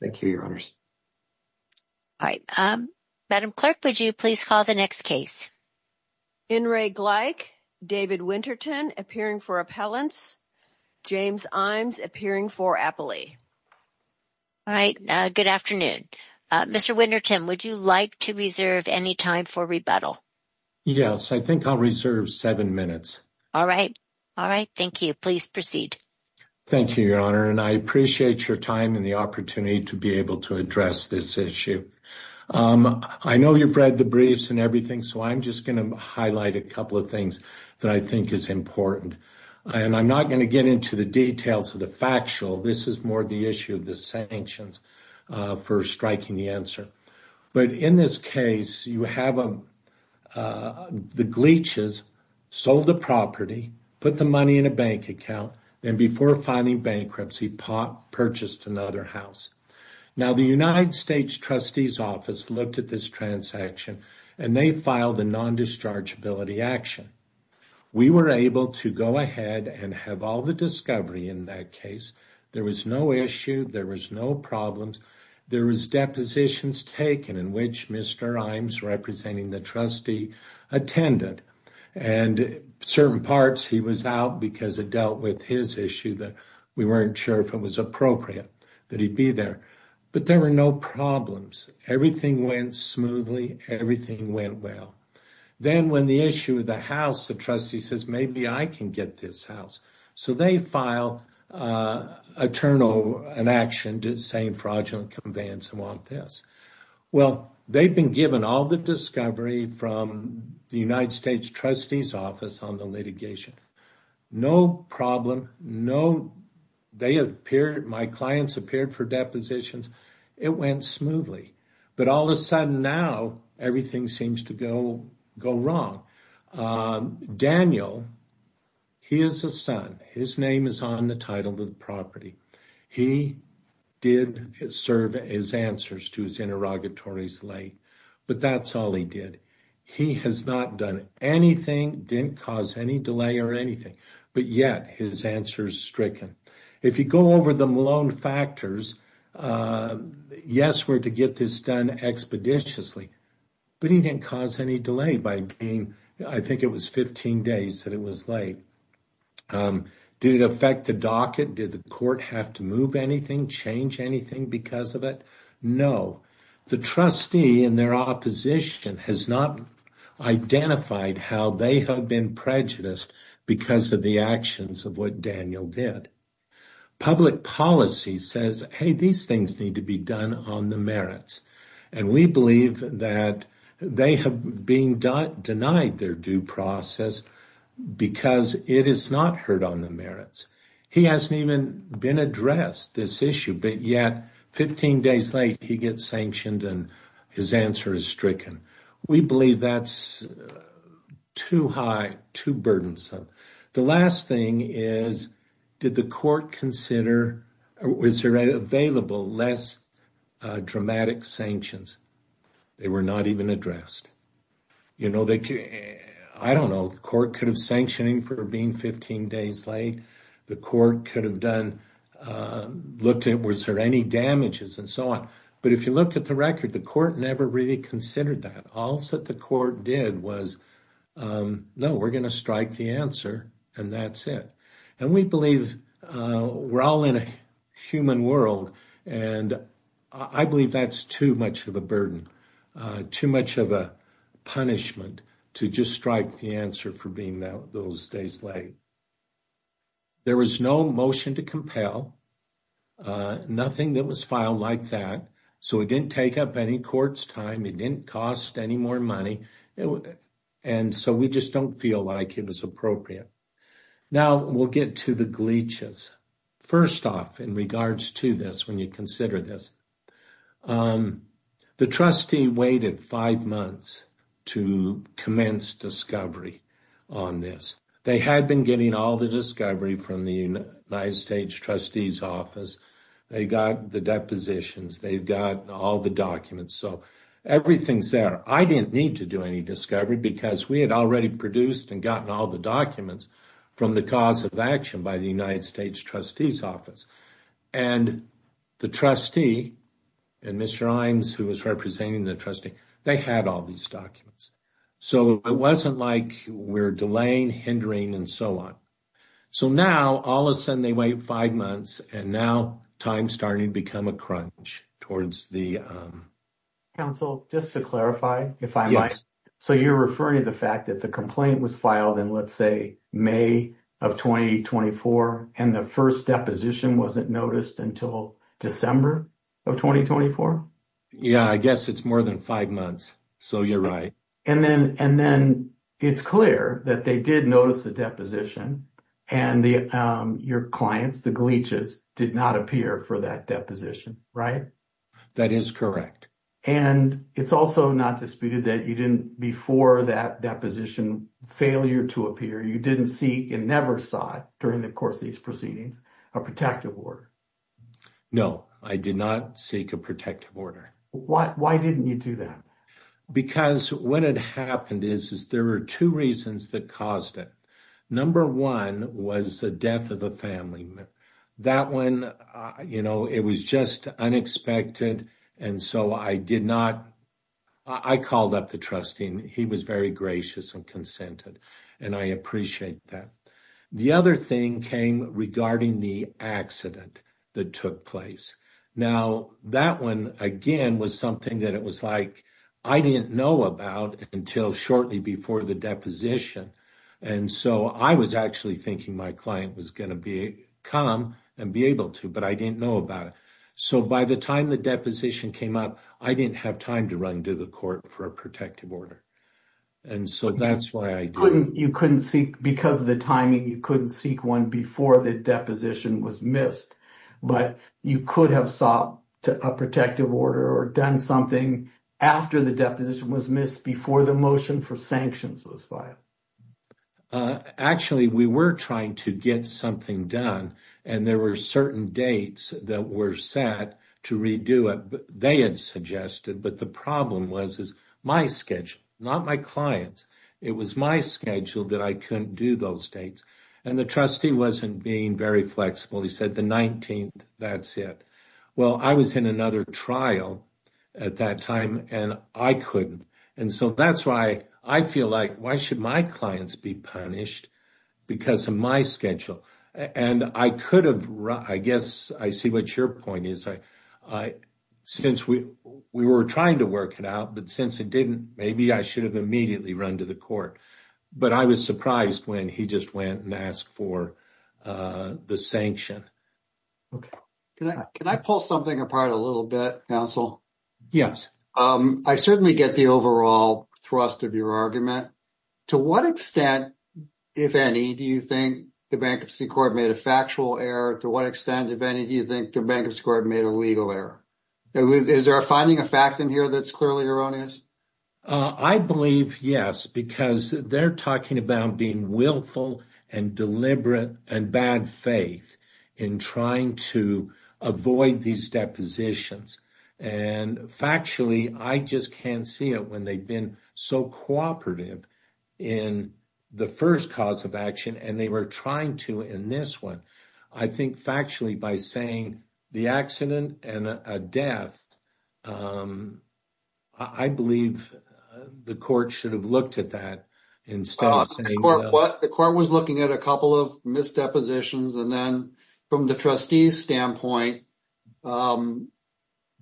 Thank you, your honors. All right, um, Madam Clerk, would you please call the next case? In re Gleich, David Winterton appearing for appellants, James Imes appearing for appellee. All right, good afternoon. Mr. Winterton, would you like to reserve any time for rebuttal? Yes, I think I'll reserve seven minutes. All right. All right. Thank you. Please proceed. Thank you, your honor, and I appreciate your time and the opportunity to be able to address this issue. I know you've read the briefs and everything, so I'm just going to highlight a couple of things that I think is important. And I'm not going to get into the details of the factual. This is more the issue of the sanctions for striking the answer. But in this case, you have the glitches, sold the property, put the money in a bank account, and before filing bankruptcy, purchased another house. Now, the United States trustee's office looked at this transaction, and they filed a non-dischargeability action. We were able to go ahead and have all the discovery in that case. There was no issue. There was no problems. There was depositions taken in which Mr. Imes, representing the trustee, attended. And certain parts, he was out because it dealt with his issue that we weren't sure if it was appropriate that he'd be there. But there were no problems. Everything went smoothly. Everything went well. Then when the issue of the house, the trustee says, maybe I can get this house. So they file a turnover, an action, saying fraudulent conveyance, and want this. Well, they've been given all the discovery from the United States trustee's office on the litigation. No problem. No, they appeared, my clients appeared for depositions. It went smoothly. But all of a sudden now, everything seems to go wrong. Now, Daniel, he is a son. His name is on the title of the property. He did serve his answers to his interrogatories late. But that's all he did. He has not done anything, didn't cause any delay or anything. But yet, his answer is stricken. If you go over the Malone factors, yes, we're to get this done expeditiously. But he didn't cause any delay by being, I think it was 15 days that it was late. Did it affect the docket? Did the court have to move anything, change anything because of it? No. The trustee and their opposition has not identified how they have been prejudiced because of the actions of what Daniel did. Public policy says, hey, these things need to be done on the merits. And we believe that they have been denied their due process because it is not heard on the merits. He hasn't even been addressed this issue. But yet, 15 days late, he gets sanctioned and his answer is stricken. We believe that's too high, too burdensome. The last thing is, did the court consider, was there available less dramatic sanctions? They were not even addressed. You know, I don't know, the court could have sanctioning for being 15 days late. The court could have done, looked at was there any damages and so on. But if you look at the record, the court never really considered that. All that the court did was, no, we're going to strike the answer and that's it. And we believe we're all in a human world. And I believe that's too much of a burden, too much of a punishment to just strike the answer for being those days late. There was no motion to compel, nothing that was filed like that. So it didn't take up any court's time. It didn't cost any more money. And so we just don't feel like it was appropriate. Now, we'll get to the glitches. First off, in regards to this, when you consider this, the trustee waited five months to commence discovery on this. They had been getting all the discovery from the United States trustee's office. They got the depositions. They've got all the documents. So everything's there. I didn't need to do any discovery because we had already produced and gotten all the documents from the cause of action by the United States trustee's office. And the trustee and Mr. Imes, who was representing the trustee, they had all these documents. So it wasn't like we're delaying, hindering and so on. So now, all of a sudden, they wait five months and now time's starting to become a crunch towards the. Counsel, just to clarify, if I might. So you're referring to the fact that the complaint was filed in, let's say, May of twenty twenty four and the first deposition wasn't noticed until December of twenty twenty four. Yeah, I guess it's more than five months. So you're right. And then and then it's clear that they did notice the deposition and your clients, the glitches did not appear for that deposition, right? That is correct. And it's also not disputed that you didn't before that deposition failure to appear, you didn't see and never saw it during the course of these proceedings, a protective order. No, I did not seek a protective order. Why didn't you do that? Because when it happened is, is there were two reasons that caused it. Number one was the death of a family member. That one, you know, it was just unexpected. And so I did not. I called up the trustee and he was very gracious and consented. And I appreciate that. The other thing came regarding the accident that took place. Now, that one, again, was something that it was like I didn't know about until shortly before the deposition. And so I was actually thinking my client was going to be calm and be able to. But I didn't know about it. So by the time the deposition came up, I didn't have time to run to the court for a protective order. And so that's why I couldn't you couldn't see because of the timing, you couldn't seek one before the deposition was missed. But you could have sought a protective order or done something after the deposition was missed, before the motion for sanctions was filed. Actually, we were trying to get something done and there were certain dates that were set to redo it. They had suggested. But the problem was, is my schedule, not my clients. It was my schedule that I couldn't do those dates. And the trustee wasn't being very flexible. He said the 19th, that's it. Well, I was in another trial at that time and I couldn't. And so that's why I feel like why should my clients be punished because of my schedule? And I could have. I guess I see what your point is. I since we we were trying to work it out, but since it didn't, maybe I should have immediately run to the court. But I was surprised when he just went and asked for the sanction. OK, can I can I pull something apart a little bit, counsel? Yes, I certainly get the overall thrust of your argument. To what extent, if any, do you think the bankruptcy court made a factual error? To what extent, if any, do you think the bankruptcy court made a legal error? Is there a finding a fact in here that's clearly erroneous? I believe, yes, because they're talking about being willful and deliberate and bad faith in trying to avoid these depositions. And factually, I just can't see it when they've been so cooperative in the first cause of action. And they were trying to in this one, I think, factually, by saying the accident and a death. I believe the court should have looked at that and stopped saying what the court was looking at, a couple of misdepositions and then from the trustee's standpoint,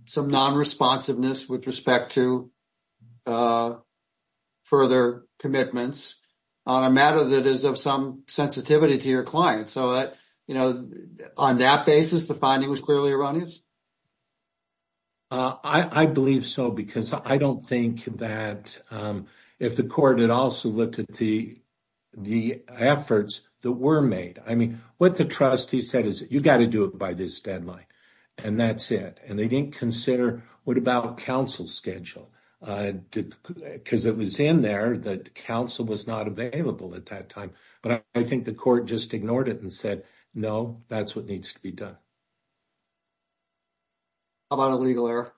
some non responsiveness with respect to further commitments on a matter that is of some sensitivity to your client so that, you know, on that basis, the finding was clearly erroneous. I believe so, because I don't think that if the court had also looked at the efforts that were made, I mean, what the trustee said is you've got to do it by this deadline and that's it. And they didn't consider what about counsel schedule because it was in there that counsel was not available at that time. But I think the court just ignored it and said, no, that's what needs to be done. How about a legal error?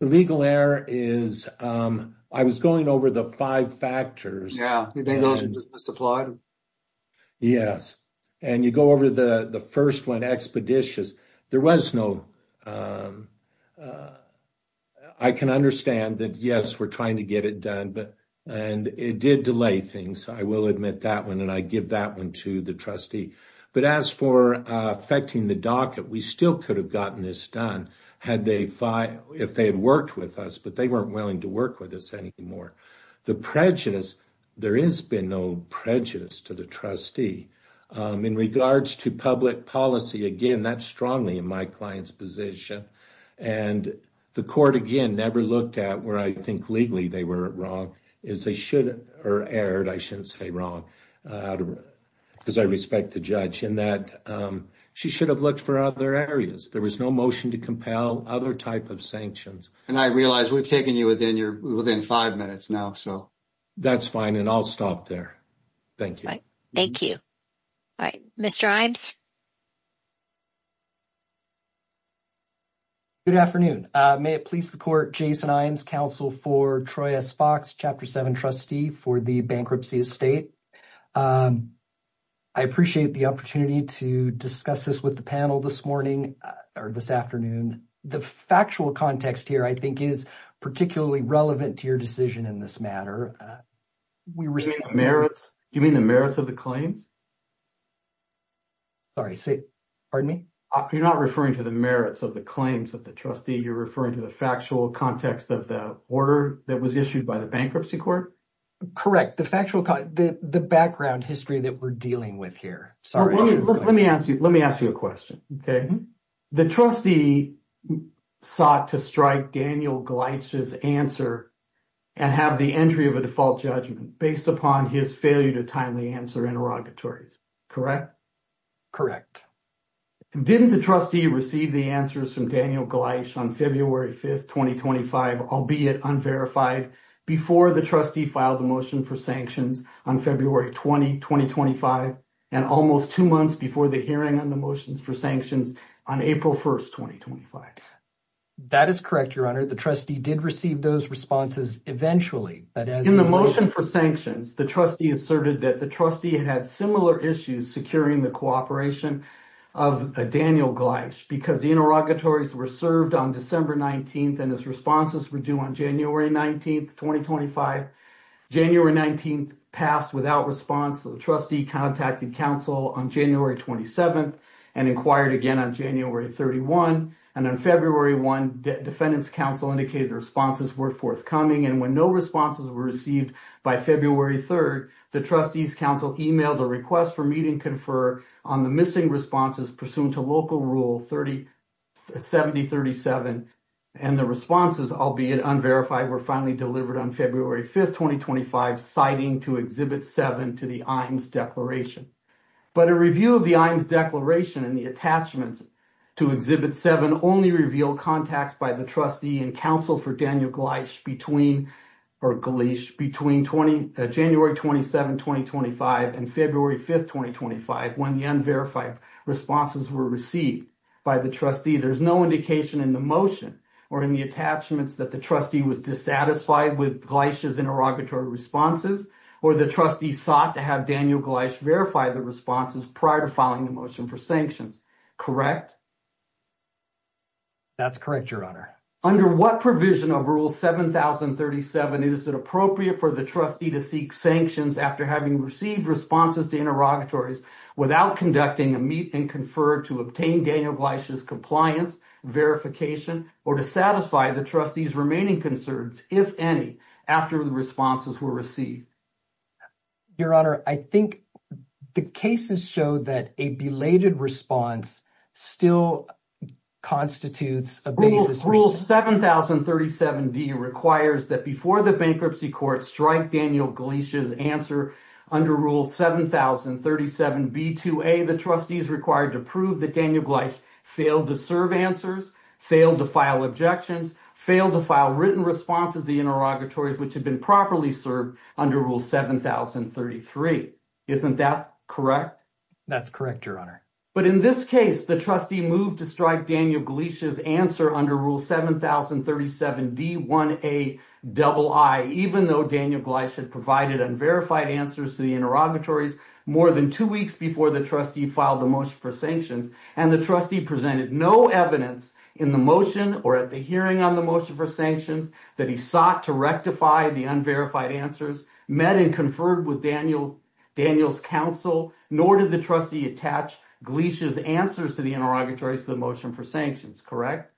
The legal error is I was going over the 5 factors. Yeah. Yes, and you go over the 1st, 1 expeditious. There was no, I can understand that. Yes, we're trying to get it done, but. And it did delay things, I will admit that 1 and I give that 1 to the trustee, but as for affecting the docket, we still could have gotten this done had they if they had worked with us, but they weren't willing to work with us anymore. The prejudice, there is been no prejudice to the trustee in regards to public policy. Again, that's strongly in my client's position. And the court again, never looked at where I think legally they were wrong is they should or erred. I shouldn't say wrong. Because I respect the judge in that she should have looked for other areas. There was no motion to compel other type of sanctions and I realize we've taken you within your within 5 minutes now. So. That's fine and I'll stop there. Thank you. Thank you. All right, Mr. Good afternoon. May it please the court Jason council for Troy as Fox chapter 7 trustee for the bankruptcy estate. I appreciate the opportunity to discuss this with the panel this morning or this afternoon. The factual context here, I think, is particularly relevant to your decision in this matter. We received merits. Do you mean the merits of the claims? Sorry, say, pardon me. You're not referring to the merits of the claims that the trustee you're referring to the factual context of the order that was issued by the bankruptcy court. Correct the factual the background history that we're dealing with here. Sorry. Let me ask you. Let me ask you a question. Okay. The trustee sought to strike Daniel's answer and have the entry of a default judgment based upon his failure to timely answer interrogatories. Correct? Correct. Didn't the trustee receive the answers from Daniel on February 5th, 2025, albeit unverified before the trustee filed the motion for sanctions on February 20, 2025 and almost 2 months before the hearing on the motions for sanctions. On April 1st, 2025, that is correct. Your honor. The trustee did receive those responses eventually, but in the motion for sanctions, the trustee asserted that the trustee had similar issues securing the cooperation of Daniel because the interrogatories were served on December 19th and his responses were due on January 19th, 2025. January 19th passed without response. The trustee contacted counsel on January 27th and inquired again on January 31 and on February 1, defendants counsel indicated responses were forthcoming. And when no responses were received by February 3rd, the trustees counsel emailed a request for meeting confer on the missing responses pursuant to local rule 30. 7037 and the responses, albeit unverified, were finally delivered on February 5th, 2025, citing to exhibit 7 to the Iams declaration. But a review of the Iams declaration and the attachments to exhibit 7 only reveal contacts by the trustee and counsel for Daniel Gleish between or Gleish between 20, January 27, 2025 and February 5th, 2025. When the unverified responses were received by the trustee, there's no indication in the motion or in the attachments that the trustee was dissatisfied with Gleish's interrogatory responses or the trustee sought to have Daniel Gleish verify the responses prior to filing the motion for sanctions. Correct? That's correct. Your honor. Under what provision of rule 7037 is it appropriate for the trustee to seek sanctions after having received responses to interrogatories without conducting a meet and confer to obtain Daniel Gleish's compliance verification or to satisfy the trustee's remaining concerns, if any, after the responses were received? Your honor, I think the cases show that a belated response still constitutes a basis. Rule 7037D requires that before the bankruptcy court strike Daniel Gleish's answer under rule 7037B2A, the trustee is required to prove that Daniel Gleish failed to serve answers, failed to file objections, failed to file written responses to the interrogatories which had been properly served under rule 7033. Isn't that correct? That's correct, your honor. But in this case, the trustee moved to strike Daniel Gleish's answer under rule 7037D1AII, even though Daniel Gleish had provided unverified answers to the interrogatories more than two weeks before the trustee filed the motion for sanctions, and the trustee presented no evidence in the motion or at the hearing on the motion for sanctions that he sought to rectify the unverified answers, met and conferred with Daniel's counsel, nor did the trustee attach Gleish's answers to the interrogatories to the motion for sanctions, correct?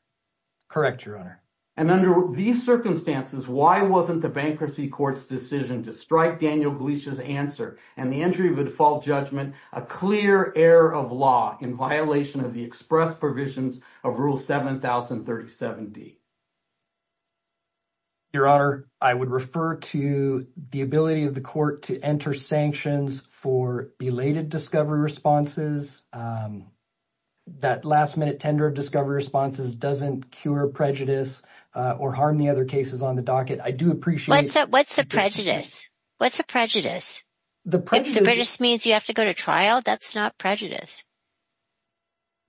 Correct, your honor. And under these circumstances, why wasn't the bankruptcy court's decision to strike Daniel Gleish's answer and the entry of a default judgment a clear error of law in violation of the express provisions of rule 7037D? Your honor, I would refer to the ability of the court to enter sanctions for belated discovery responses. That last-minute tender of discovery responses doesn't cure prejudice or harm the other cases on the docket. I do appreciate that. What's the prejudice? What's the prejudice? The prejudice means you have to go to trial. That's not prejudice.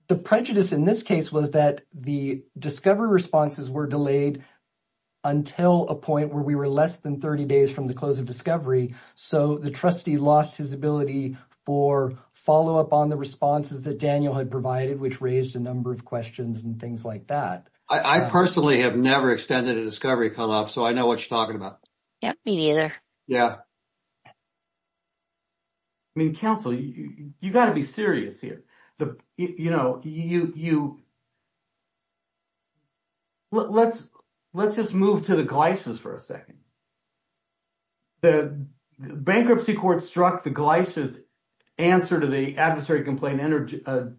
The prejudice in this case was that the discovery responses were delayed until a point where we were less than 30 days from the close of discovery. So the trustee lost his ability for follow up on the responses that Daniel had provided, which raised a number of questions and things like that. I personally have never extended a discovery come up, so I know what you're talking about. Yeah, me neither. Yeah. Counsel, you've got to be serious here. Let's just move to the Gleish's for a second. The bankruptcy court struck the Gleish's answer to the adversary complaint under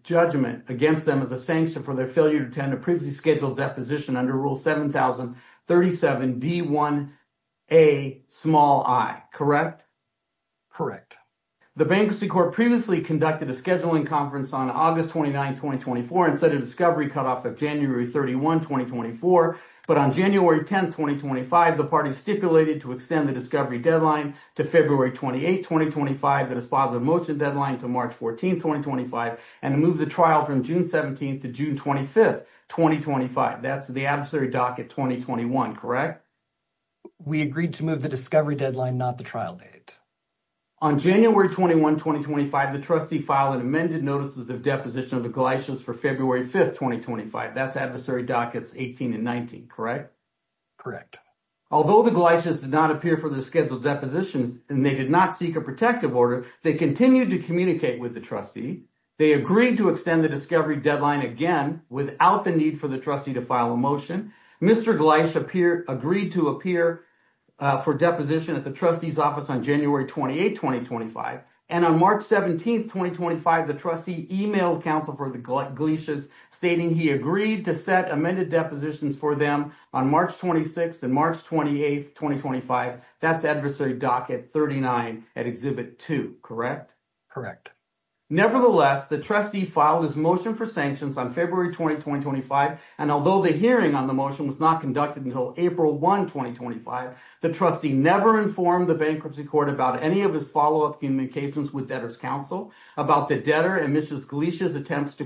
judgment against them as a sanction for their failure to attend a previously scheduled deposition under rule 7037D1Ai, correct? The bankruptcy court previously conducted a scheduling conference on August 29, 2024, and set a discovery cutoff of January 31, 2024. But on January 10, 2025, the party stipulated to extend the discovery deadline to February 28, 2025, the dispositive motion deadline to March 14, 2025, and move the trial from June 17 to June 25, 2025. That's the adversary docket 2021, correct? We agreed to move the discovery deadline, not the trial date. On January 21, 2025, the trustee filed an amended notices of deposition of the Gleish's for February 5, 2025. That's adversary dockets 18 and 19, correct? Although the Gleish's did not appear for the scheduled depositions and they did not seek a protective order, they continued to communicate with the trustee. They agreed to extend the discovery deadline again without the need for the trustee to file a motion. Mr. Gleish agreed to appear for deposition at the trustee's office on January 28, 2025. And on March 17, 2025, the trustee emailed counsel for the Gleish's stating he agreed to set amended depositions for them on March 26 and March 28, 2025. That's adversary docket 39 at exhibit 2, correct? Nevertheless, the trustee filed his motion for sanctions on February 20, 2025, and although the hearing on the motion was not conducted until April 1, 2025, the trustee never informed the bankruptcy court about any of his follow-up in the cases with debtor's counsel about the debtor and Mr. Gleish's attempts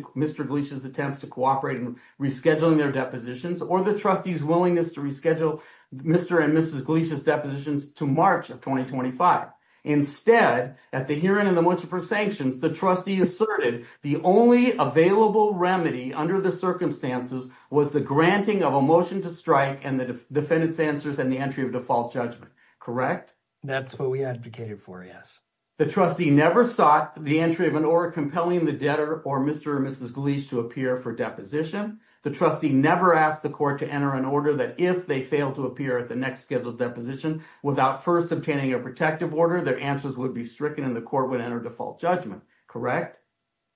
to cooperate in rescheduling their depositions or the trustee's willingness to reschedule Mr. and Mrs. Gleish's depositions to March of 2025. Instead, at the hearing on the motion for sanctions, the trustee asserted the only available remedy under the circumstances was the granting of a motion to strike and the defendant's answers and the entry of default judgment, correct? That's what we advocated for, yes. The trustee never sought the entry of an order compelling the debtor or Mr. or Mrs. Gleish to appear for deposition. The trustee never asked the court to enter an order that if they fail to appear at the next scheduled deposition without first obtaining a protective order, their answers would be stricken and the court would enter default judgment, correct?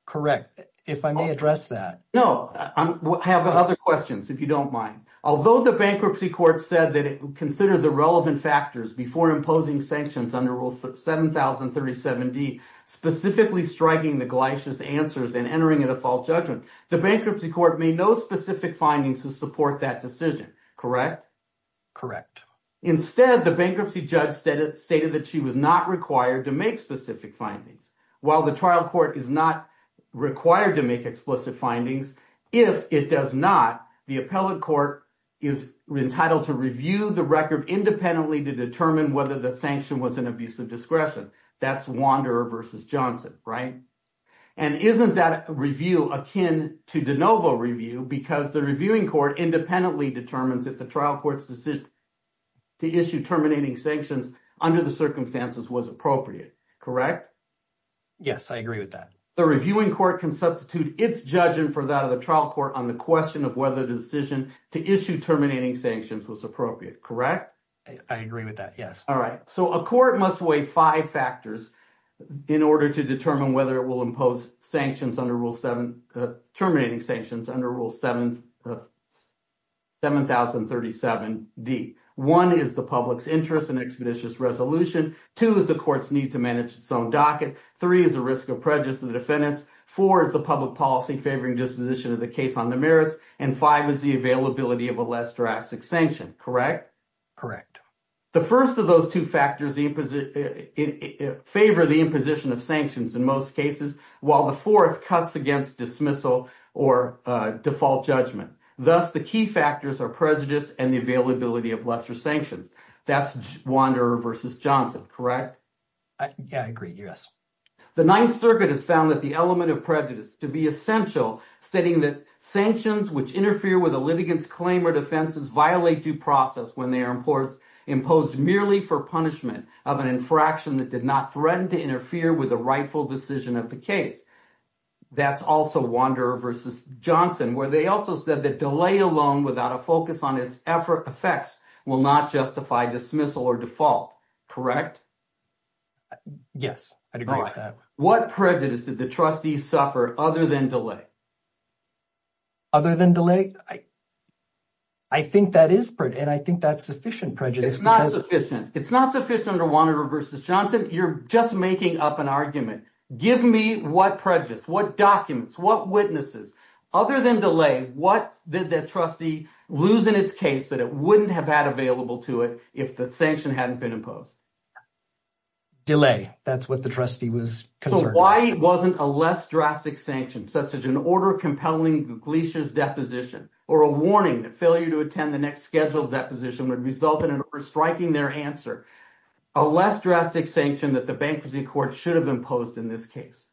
Correct. If I may address that. No, I have other questions, if you don't mind. Although the bankruptcy court said that it considered the relevant factors before imposing sanctions under Rule 7037D, specifically striking the Gleish's answers and entering a default judgment, the bankruptcy court made no specific findings to support that decision, correct? Instead, the bankruptcy judge stated that she was not required to make specific findings. While the trial court is not required to make explicit findings, if it does not, the appellate court is entitled to review the record independently to determine whether the sanction was an abuse of discretion. That's Wanderer v. Johnson, right? And isn't that review akin to de novo review because the reviewing court independently determines if the trial court's decision to issue terminating sanctions under the circumstances was appropriate, correct? Yes, I agree with that. The reviewing court can substitute its judgment for that of the trial court on the question of whether the decision to issue terminating sanctions was appropriate, correct? I agree with that, yes. All right, so a court must weigh five factors in order to determine whether it will impose sanctions under Rule 7, terminating sanctions under Rule 7037D. One is the public's interest in expeditious resolution. Two is the court's need to manage its own docket. Three is the risk of prejudice to the defendants. Four is the public policy favoring disposition of the case on the merits. And five is the availability of a less drastic sanction, correct? Correct. The first of those two factors favor the imposition of sanctions in most cases, while the fourth cuts against dismissal or default judgment. Thus, the key factors are prejudice and the availability of lesser sanctions. That's Wanderer v. Johnson, correct? I agree, yes. The Ninth Circuit has found that the element of prejudice to be essential, stating that sanctions which interfere with a litigant's claim or defenses violate due process when they are imposed merely for punishment of an infraction that did not threaten to interfere with a rightful decision of the case. That's also Wanderer v. Johnson, where they also said that delay alone without a focus on its effects will not justify dismissal or default, correct? Yes, I agree with that. What prejudice did the trustee suffer other than delay? Other than delay? I think that is, and I think that's sufficient prejudice. It's not sufficient. It's not sufficient under Wanderer v. Johnson. You're just making up an argument. Give me what prejudice, what documents, what witnesses. Other than delay, what did the trustee lose in its case that it wouldn't have had available to it if the sanction hadn't been imposed? Delay. That's what the trustee was concerned about. Why wasn't a less drastic sanction, such as an order compelling Gleesha's deposition or a warning that failure to attend the next scheduled deposition would result in an order striking their answer, a less drastic sanction that the bankruptcy court should have imposed in this case?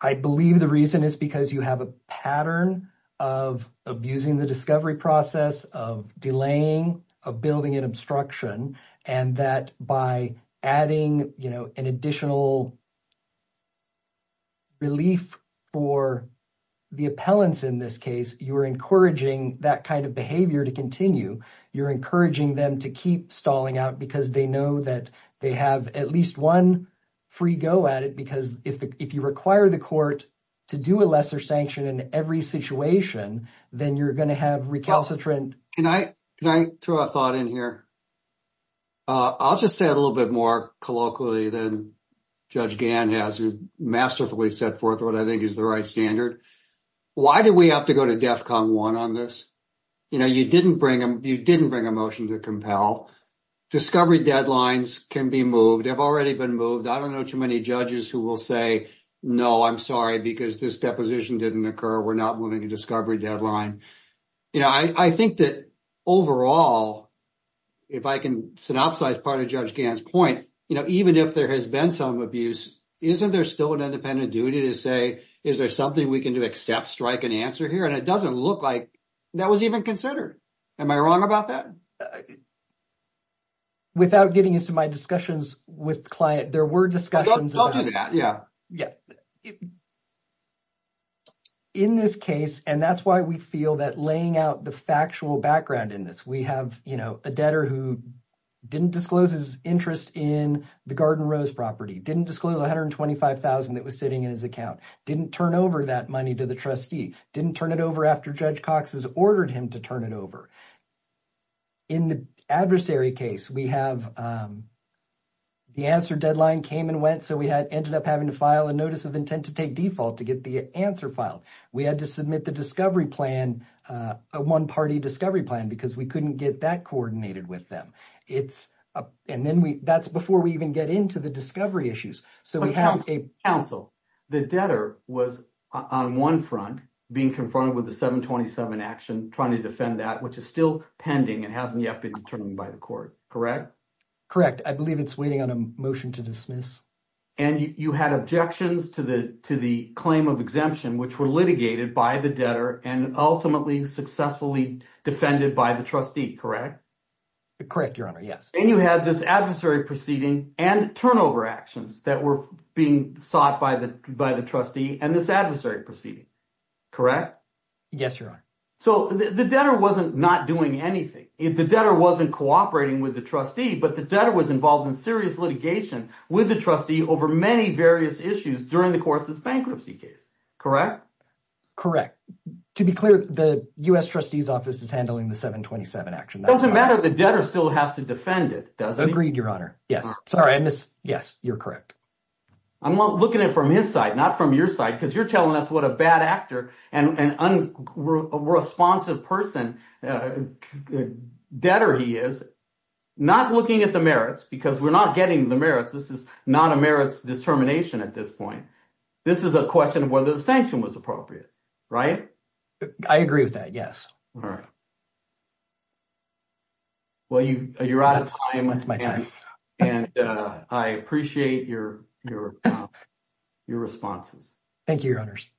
I believe the reason is because you have a pattern of abusing the discovery process, of delaying, of building an obstruction, and that by adding, you know, an additional relief for the appellants in this case, you're encouraging that kind of behavior to continue. You're encouraging them to keep stalling out because they know that they have at least one free go at it. Because if you require the court to do a lesser sanction in every situation, then you're going to have recalcitrant. Can I throw a thought in here? I'll just say a little bit more colloquially than Judge Gann has masterfully set forth what I think is the right standard. Why do we have to go to DEFCON 1 on this? You know, you didn't bring a motion to compel. Discovery deadlines can be moved. They've already been moved. I don't know too many judges who will say, no, I'm sorry, because this deposition didn't occur. We're not moving a discovery deadline. You know, I think that overall, if I can synopsize part of Judge Gann's point, you know, even if there has been some abuse, isn't there still an independent duty to say, is there something we can do except strike an answer here? And it doesn't look like that was even considered. Am I wrong about that? Without getting into my discussions with client, there were discussions. Yeah, yeah. In this case, and that's why we feel that laying out the factual background in this, we have a debtor who didn't disclose his interest in the Garden Rose property, didn't disclose $125,000 that was sitting in his account, didn't turn over that money to the trustee, didn't turn it over after Judge Cox has ordered him to turn it over. In the adversary case, we have the answer deadline came and went, so we ended up having to file a notice of intent to take default to get the answer filed. We had to submit the discovery plan, a one-party discovery plan, because we couldn't get that coordinated with them. And that's before we even get into the discovery issues. Counsel, the debtor was on one front being confronted with the 727 action, trying to defend that, which is still pending and hasn't yet been determined by the court, correct? Correct. I believe it's waiting on a motion to dismiss. And you had objections to the claim of exemption, which were litigated by the debtor and ultimately successfully defended by the trustee, correct? Correct, Your Honor, yes. And you had this adversary proceeding and turnover actions that were being sought by the trustee and this adversary proceeding, correct? Yes, Your Honor. So the debtor wasn't not doing anything. The debtor wasn't cooperating with the trustee, but the debtor was involved in serious litigation with the trustee over many various issues during the course of this bankruptcy case, correct? Correct. To be clear, the U.S. trustee's office is handling the 727 action. It doesn't matter. The debtor still has to defend it, doesn't he? Agreed, Your Honor. Yes. Sorry, I miss—yes, you're correct. I'm looking at it from his side, not from your side, because you're telling us what a bad actor and unresponsive person, debtor he is. Not looking at the merits, because we're not getting the merits. This is not a merits determination at this point. This is a question of whether the sanction was appropriate, right? I agree with that, yes. All right. Well, you're out of time. That's my time. And I appreciate your responses. Thank you, Your Honors.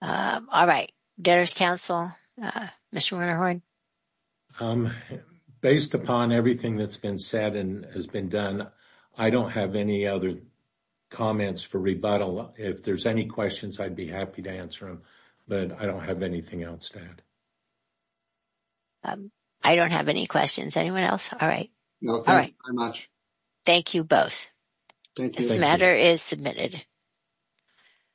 All right. Debtor's counsel, Mr. Werner Hoyd. Based upon everything that's been said and has been done, I don't have any other comments for rebuttal. If there's any questions, I'd be happy to answer them. But I don't have anything else to add. I don't have any questions. Anyone else? All right. No, thank you very much. Thank you both. This matter is submitted.